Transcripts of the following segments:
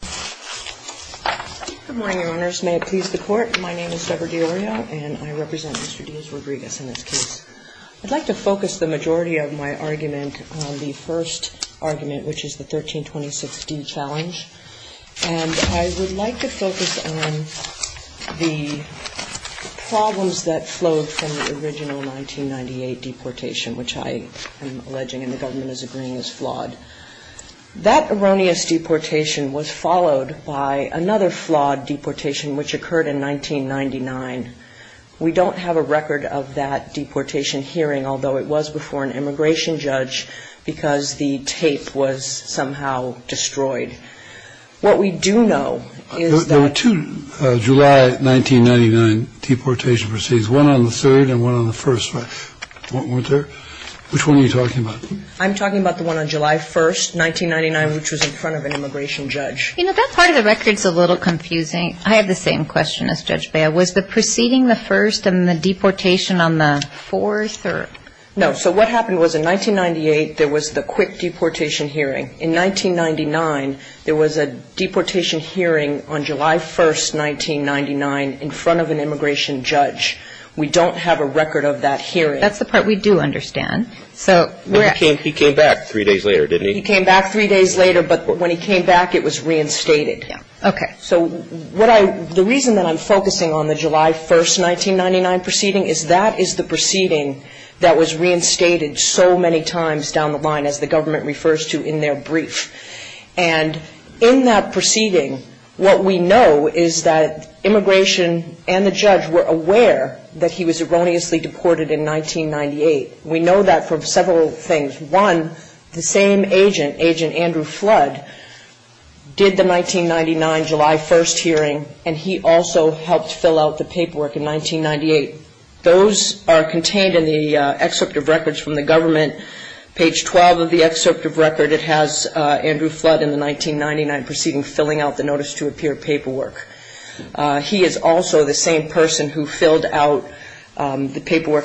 Good morning, Your Honors. May it please the Court, my name is Deborah Di Iorio, and I represent Mr. Diaz-Rodriguez in this case. I'd like to focus the majority of my argument on the first argument, which is the 1326d challenge, and I would like to focus on the problems that flowed from the original 1998 deportation, which I am alleging and the government is arguing is flawed. That erroneous deportation was followed by another flawed deportation which occurred in 1999. We don't have a record of that deportation hearing, although it was before an immigration judge, because the tape was somehow destroyed. What we do know is that- There were two July 1999 deportation proceedings, one on the 3rd and one on the 1st, right? Weren't there? Which one are you talking about? I'm talking about the one on July 1st, 1999, which was in front of an immigration judge. You know, that part of the record is a little confusing. I have the same question as Judge Baya. Was the proceeding the first and the deportation on the fourth or- No, so what happened was in 1998, there was the quick deportation hearing. In 1999, there was a deportation hearing on July 1st, 1999, in front of an immigration judge. We don't have a record of that hearing. That's the part we do understand. He came back three days later, didn't he? He came back three days later, but when he came back, it was reinstated. Yeah. Okay. So the reason that I'm focusing on the July 1st, 1999 proceeding is that is the proceeding that was reinstated so many times down the line, as the government refers to in their brief. And in that proceeding, what we know is that immigration and the judge were aware that he was erroneously deported in 1998. We know that from several things. One, the same agent, Agent Andrew Flood, did the 1999 July 1st hearing, and he also helped fill out the paperwork in 1998. Those are contained in the excerpt of records from the government. Page 12 of the excerpt of record, it has Andrew Flood in the 1999 proceeding filling out the paperwork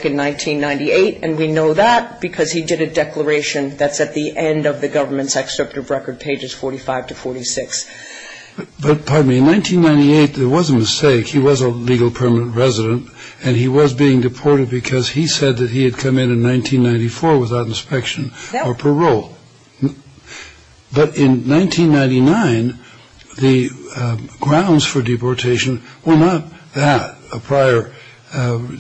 in 1998, and we know that because he did a declaration that's at the end of the government's excerpt of record, pages 45 to 46. But pardon me, in 1998, there was a mistake. He was a legal permanent resident, and he was being deported because he said that he had come in in 1994 without inspection or parole. Yeah. But in 1999, the grounds for deportation were not that, a prior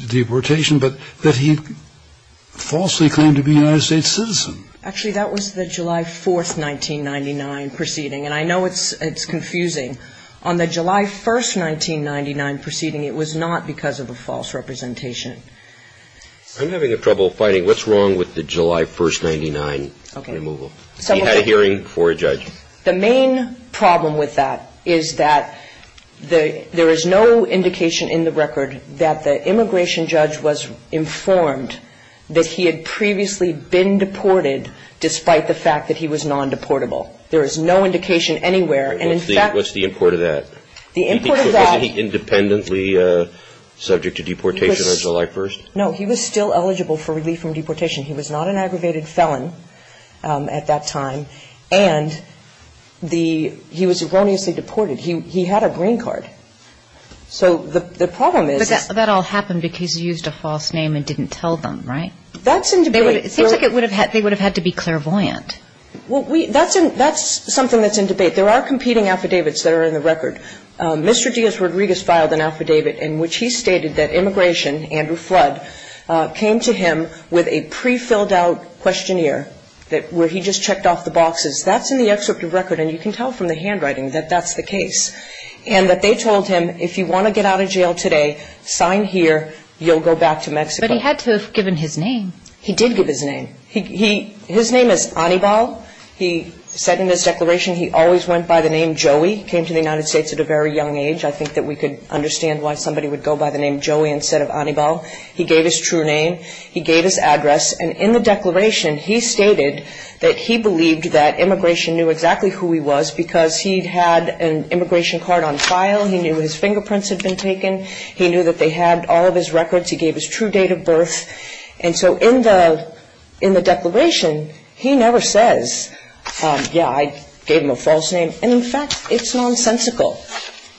deportation, but that he falsely claimed to be a United States citizen. Actually, that was the July 4th, 1999, proceeding. And I know it's confusing. On the July 1st, 1999, proceeding, it was not because of a false representation. I'm having trouble finding what's wrong with the July 1st, 1999 removal. Okay. He had a hearing before a judge. The main problem with that is that there is no indication in the record that the immigration judge was informed that he had previously been deported despite the fact that he was non-deportable. There is no indication anywhere. What's the import of that? The import of that was he was not an aggravated felon at that time. And he was erroneously deported. He had a green card. So the problem is he was not a non-deportable. But that all happened because he used a false name and didn't tell them, right? That's in debate. It seems like it would have had to be clairvoyant. Well, that's something that's in debate. There are competing affidavits that are in the record. Mr. Diaz-Rodriguez filed an affidavit in which he stated that immigration, Andrew Flood, came to him with a pre-filled out questionnaire where he just checked off the boxes. That's in the excerpt of record. And you can tell from the handwriting that that's the case. And that they told him, if you want to get out of jail today, sign here. You'll go back to Mexico. But he had to have given his name. He did give his name. His name is Anibal. He said in his declaration he always went by the name Joey. He came to the United States at a very young age. I think that we could understand why somebody would go by the name Joey instead of Anibal. He gave his true name. He gave his address. And in the declaration, he stated that he believed that immigration knew exactly who he was because he'd had an immigration card on file. He knew his fingerprints had been taken. He gave his true date of birth. And so in the declaration, he never says, yeah, I gave him a false name. And, in fact, it's nonsensical.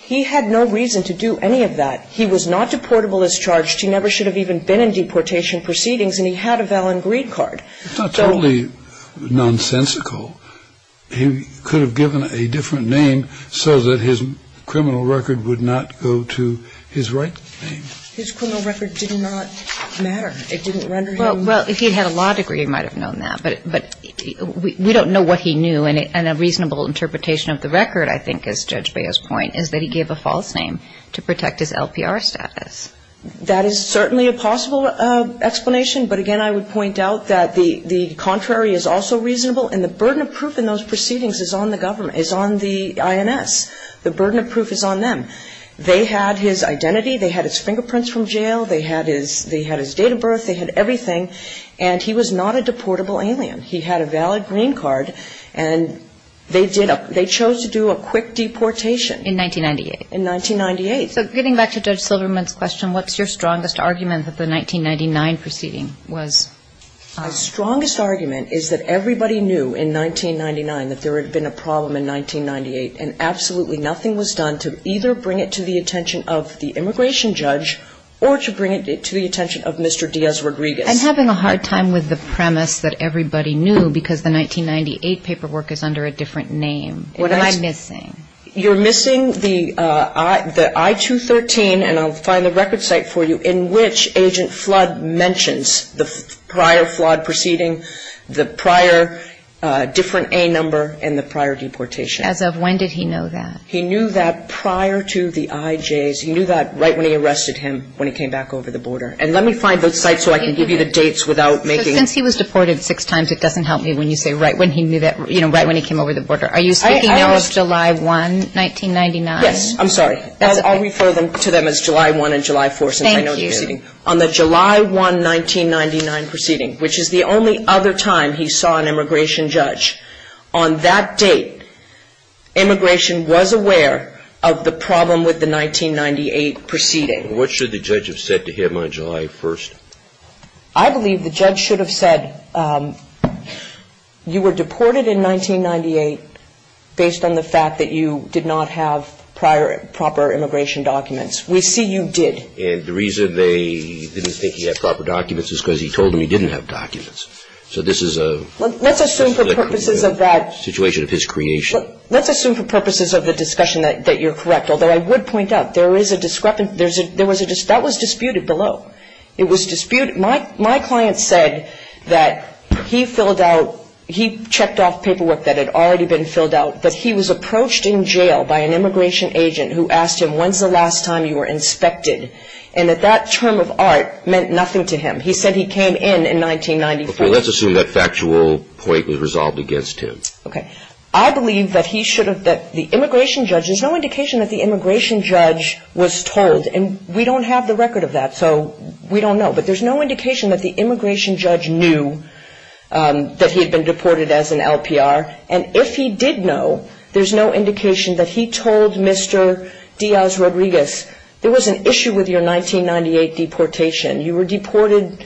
He had no reason to do any of that. He was not deportable as charged. He never should have even been in deportation proceedings. And he had a valid greed card. It's not totally nonsensical. He could have given a different name so that his criminal record would not go to his right name. His criminal record did not matter. It didn't render him. Well, if he'd had a law degree, he might have known that. But we don't know what he knew. And a reasonable interpretation of the record, I think, as Judge Beo's point, is that he gave a false name to protect his LPR status. That is certainly a possible explanation. But, again, I would point out that the contrary is also reasonable. And the burden of proof in those proceedings is on the government, is on the INS. The burden of proof is on them. They had his identity. They had his fingerprints from jail. They had his date of birth. They had everything. And he was not a deportable alien. He had a valid greed card. And they chose to do a quick deportation. In 1998. In 1998. So getting back to Judge Silverman's question, what's your strongest argument that the 1999 proceeding was false? My strongest argument is that everybody knew in 1999 that there had been a problem in 1998, and absolutely nothing was done to either bring it to the attention of the immigration judge or to bring it to the attention of Mr. Diaz-Rodriguez. I'm having a hard time with the premise that everybody knew because the 1998 paperwork is under a different name. What am I missing? You're missing the I-213, and I'll find the record site for you, in which Agent Flood mentions the prior flawed proceeding, the prior different A number, and the prior deportation. As of when did he know that? He knew that prior to the IJs. He knew that right when he arrested him, when he came back over the border. And let me find those sites so I can give you the dates without making it. Since he was deported six times, it doesn't help me when you say right when he knew that, you know, right when he came over the border. Are you speaking now of July 1, 1999? Yes. I'm sorry. I'll refer to them as July 1 and July 4 since I know the proceeding. Thank you. On the July 1, 1999 proceeding, which is the only other time he saw an immigration judge, on that date immigration was aware of the problem with the 1998 proceeding. What should the judge have said to him on July 1? I believe the judge should have said you were deported in 1998 based on the fact that you did not have proper immigration documents. We see you did. And the reason they didn't think he had proper documents is because he told them he didn't have documents. So this is a situation of his creation. Let's assume for purposes of the discussion that you're correct. Although I would point out there is a discrepancy. That was disputed below. It was disputed. My client said that he filled out, he checked off paperwork that had already been filled out, that he was approached in jail by an immigration agent who asked him, when's the last time you were inspected, and that that term of art meant nothing to him. He said he came in in 1994. Let's assume that factual point was resolved against him. Okay. I believe that he should have, that the immigration judge, there's no indication that the immigration judge was told. And we don't have the record of that. So we don't know. But there's no indication that the immigration judge knew that he had been deported as an LPR. And if he did know, there's no indication that he told Mr. Diaz Rodriguez, there was an issue with your 1998 deportation. You were deported,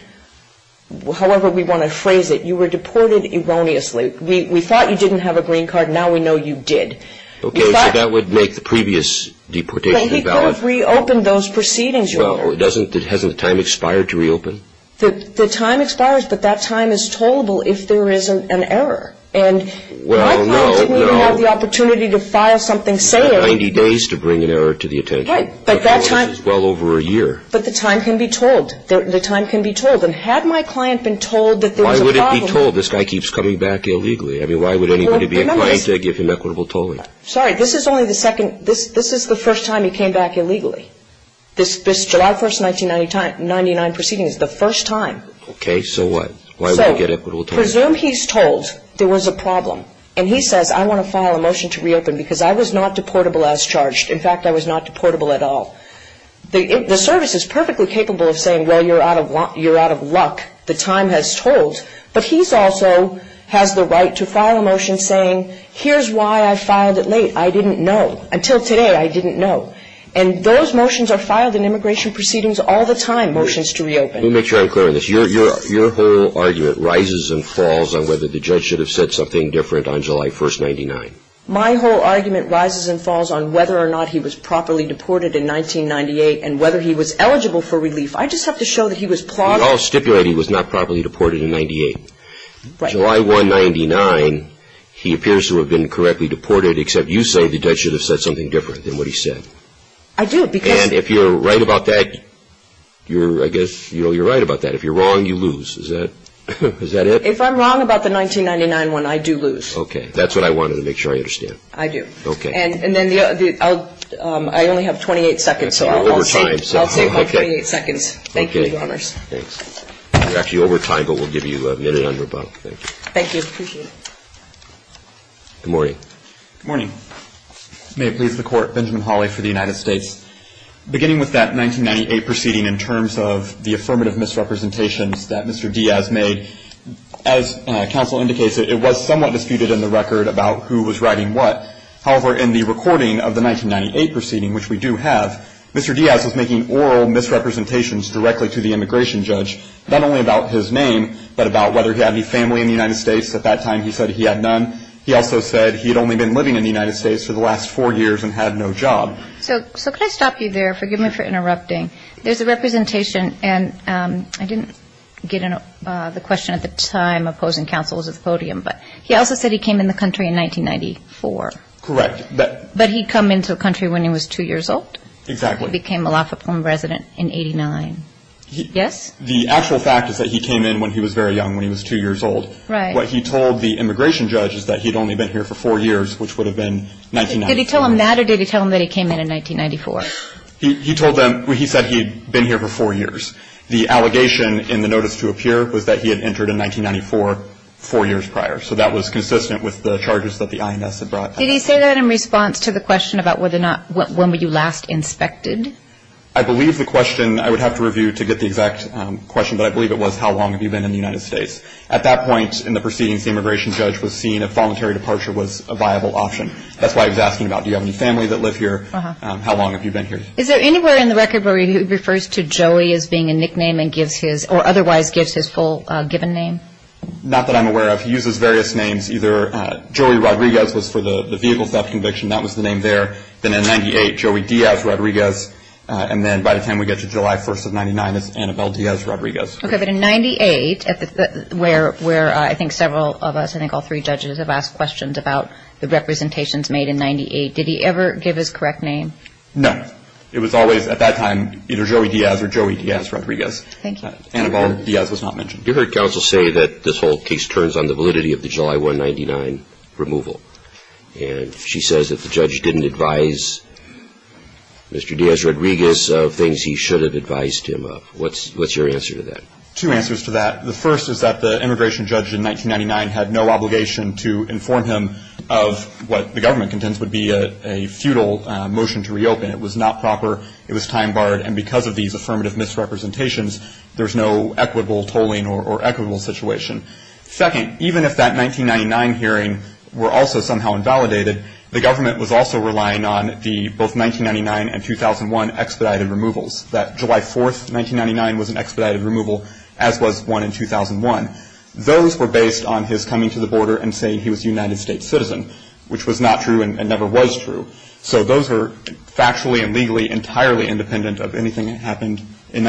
however we want to phrase it, you were deported erroneously. We thought you didn't have a green card. Now we know you did. Okay. So that would make the previous deportation invalid. But he could have reopened those proceedings, Your Honor. Well, doesn't, hasn't the time expired to reopen? The time expires, but that time is tollable if there is an error. And my client didn't even have the opportunity to file something saying. 90 days to bring an error to the attention. Right. But that time. Well over a year. But the time can be told. The time can be told. And had my client been told that there was a problem. Why would it be told? This guy keeps coming back illegally. I mean, why would anybody be inclined to give him equitable tolling? Sorry. This is only the second. This is the first time he came back illegally. This July 1, 1999 proceeding is the first time. Okay. So what? Why would he get equitable tolling? So presume he's told there was a problem. And he says, I want to file a motion to reopen because I was not deportable as charged. In fact, I was not deportable at all. The service is perfectly capable of saying, well, you're out of luck. The time has told. But he also has the right to file a motion saying, here's why I filed it late. I didn't know. Until today, I didn't know. And those motions are filed in immigration proceedings all the time, motions to reopen. Let me make sure I'm clear on this. Your whole argument rises and falls on whether the judge should have said something different on July 1, 1999. My whole argument rises and falls on whether or not he was properly deported in 1998 and whether he was eligible for relief. I just have to show that he was plodding. We all stipulate he was not properly deported in 1998. Right. July 1, 1999, he appears to have been correctly deported, except you say the judge should have said something different than what he said. I do, because. And if you're right about that, I guess you're right about that. If you're wrong, you lose. Is that it? If I'm wrong about the 1999 one, I do lose. Okay. That's what I wanted to make sure I understand. I do. Okay. And then I only have 28 seconds, so I'll save my 28 seconds. Okay. Thank you, Your Honors. Thanks. You're actually over time, but we'll give you a minute on your buck. Thank you. Thank you. Appreciate it. Good morning. Good morning. May it please the Court. Benjamin Hawley for the United States. Beginning with that 1998 proceeding in terms of the affirmative misrepresentations that Mr. Diaz made, as counsel indicates, it was somewhat disputed in the record about who was writing what. However, in the recording of the 1998 proceeding, which we do have, Mr. Diaz was making oral misrepresentations directly to the immigration judge, not only about his name, but about whether he had any family in the United States. At that time, he said he had none. He also said he had only been living in the United States for the last four years and had no job. So could I stop you there? Forgive me for interrupting. There's a representation, and I didn't get the question at the time opposing counsel was at the podium, but he also said he came in the country in 1994. Correct. But he'd come into the country when he was two years old? Exactly. Became a Laughlin resident in 89. Yes? The actual fact is that he came in when he was very young, when he was two years old. Right. What he told the immigration judge is that he'd only been here for four years, which would have been 1994. Did he tell him that or did he tell him that he came in in 1994? He told them he said he'd been here for four years. The allegation in the notice to appear was that he had entered in 1994 four years prior, so that was consistent with the charges that the INS had brought. Did he say that in response to the question about when were you last inspected? I believe the question I would have to review to get the exact question, but I believe it was how long have you been in the United States. At that point in the proceedings, the immigration judge was seeing a voluntary departure was a viable option. That's why he was asking about do you have any family that live here, how long have you been here. Is there anywhere in the record where he refers to Joey as being a nickname or otherwise gives his full given name? Not that I'm aware of. He uses various names. Either Joey Rodriguez was for the vehicle theft conviction. That was the name there. Then in 98, Joey Diaz Rodriguez, and then by the time we get to July 1st of 99 is Annabelle Diaz Rodriguez. Okay. But in 98, where I think several of us, I think all three judges have asked questions about the representations made in 98, did he ever give his correct name? No. It was always at that time either Joey Diaz or Joey Diaz Rodriguez. Thank you. Annabelle Diaz was not mentioned. You heard counsel say that this whole case turns on the validity of the July 199 removal, and she says that the judge didn't advise Mr. Diaz Rodriguez of things he should have advised him of. What's your answer to that? Two answers to that. The first is that the immigration judge in 1999 had no obligation to inform him of what the government contends would be a futile motion to reopen. It was not proper. It was time-barred, and because of these affirmative misrepresentations, there's no equitable tolling or equitable situation. Second, even if that 1999 hearing were also somehow invalidated, the government was also relying on the both 1999 and 2001 expedited removals. That July 4th, 1999, was an expedited removal, as was one in 2001. Those were based on his coming to the border and saying he was a United States citizen, which was not true and never was true. So those were factually and legally entirely independent of anything that happened in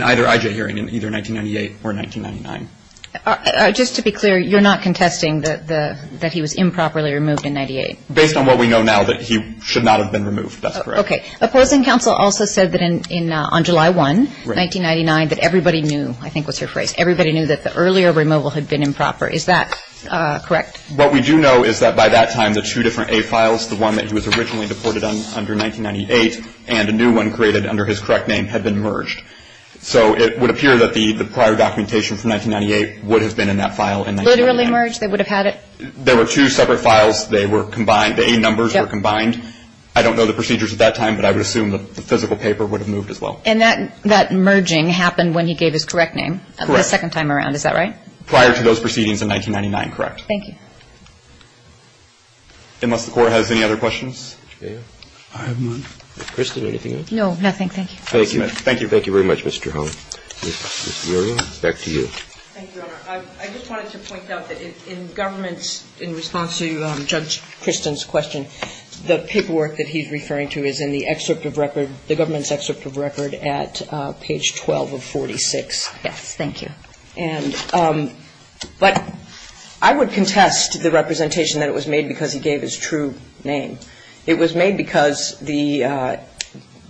either I.J. hearing in either 1998 or 1999. Just to be clear, you're not contesting that he was improperly removed in 1998? Based on what we know now, that he should not have been removed. That's correct. Okay. Opposing counsel also said that on July 1, 1999, that everybody knew, I think was your phrase, everybody knew that the earlier removal had been improper. Is that correct? What we do know is that by that time, the two different A files, the one that he was originally deported under in 1998 and a new one created under his correct name, had been merged. So it would appear that the prior documentation from 1998 would have been in that file in 1999. Literally merged? They would have had it? There were two separate files. They were combined. The A numbers were combined. I don't know the procedures at that time, but I would assume the physical paper would have moved as well. And that merging happened when he gave his correct name the second time around. Is that right? Prior to those proceedings in 1999, correct. Thank you. Unless the Court has any other questions. I have one. Kristen, anything else? No, nothing. Thank you. Thank you. Thank you very much, Mr. Holland. Ms. Durian, back to you. Thank you, Your Honor. I just wanted to point out that in government's, in response to Judge Kristen's question, the paperwork that he's referring to is in the excerpt of record, the government's excerpt of record at page 12 of 46. Yes. Thank you. But I would contest the representation that it was made because he gave his true name. It was made because the,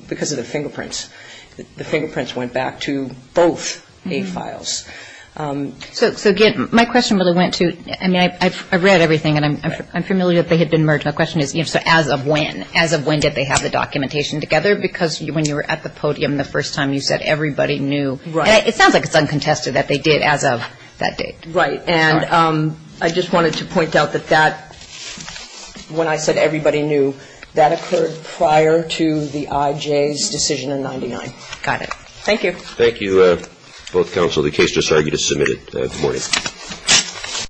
because of the fingerprints. The fingerprints went back to both A files. So, again, my question really went to, I mean, I've read everything, and I'm familiar that they had been merged. My question is, you know, so as of when? As of when did they have the documentation together? Because when you were at the podium the first time, you said everybody knew. Right. It sounds like it's uncontested that they did as of that date. Right. And I just wanted to point out that that, when I said everybody knew, that occurred prior to the IJ's decision in 99. Got it. Thank you. Thank you, both counsel. The case just argued is submitted. Good morning.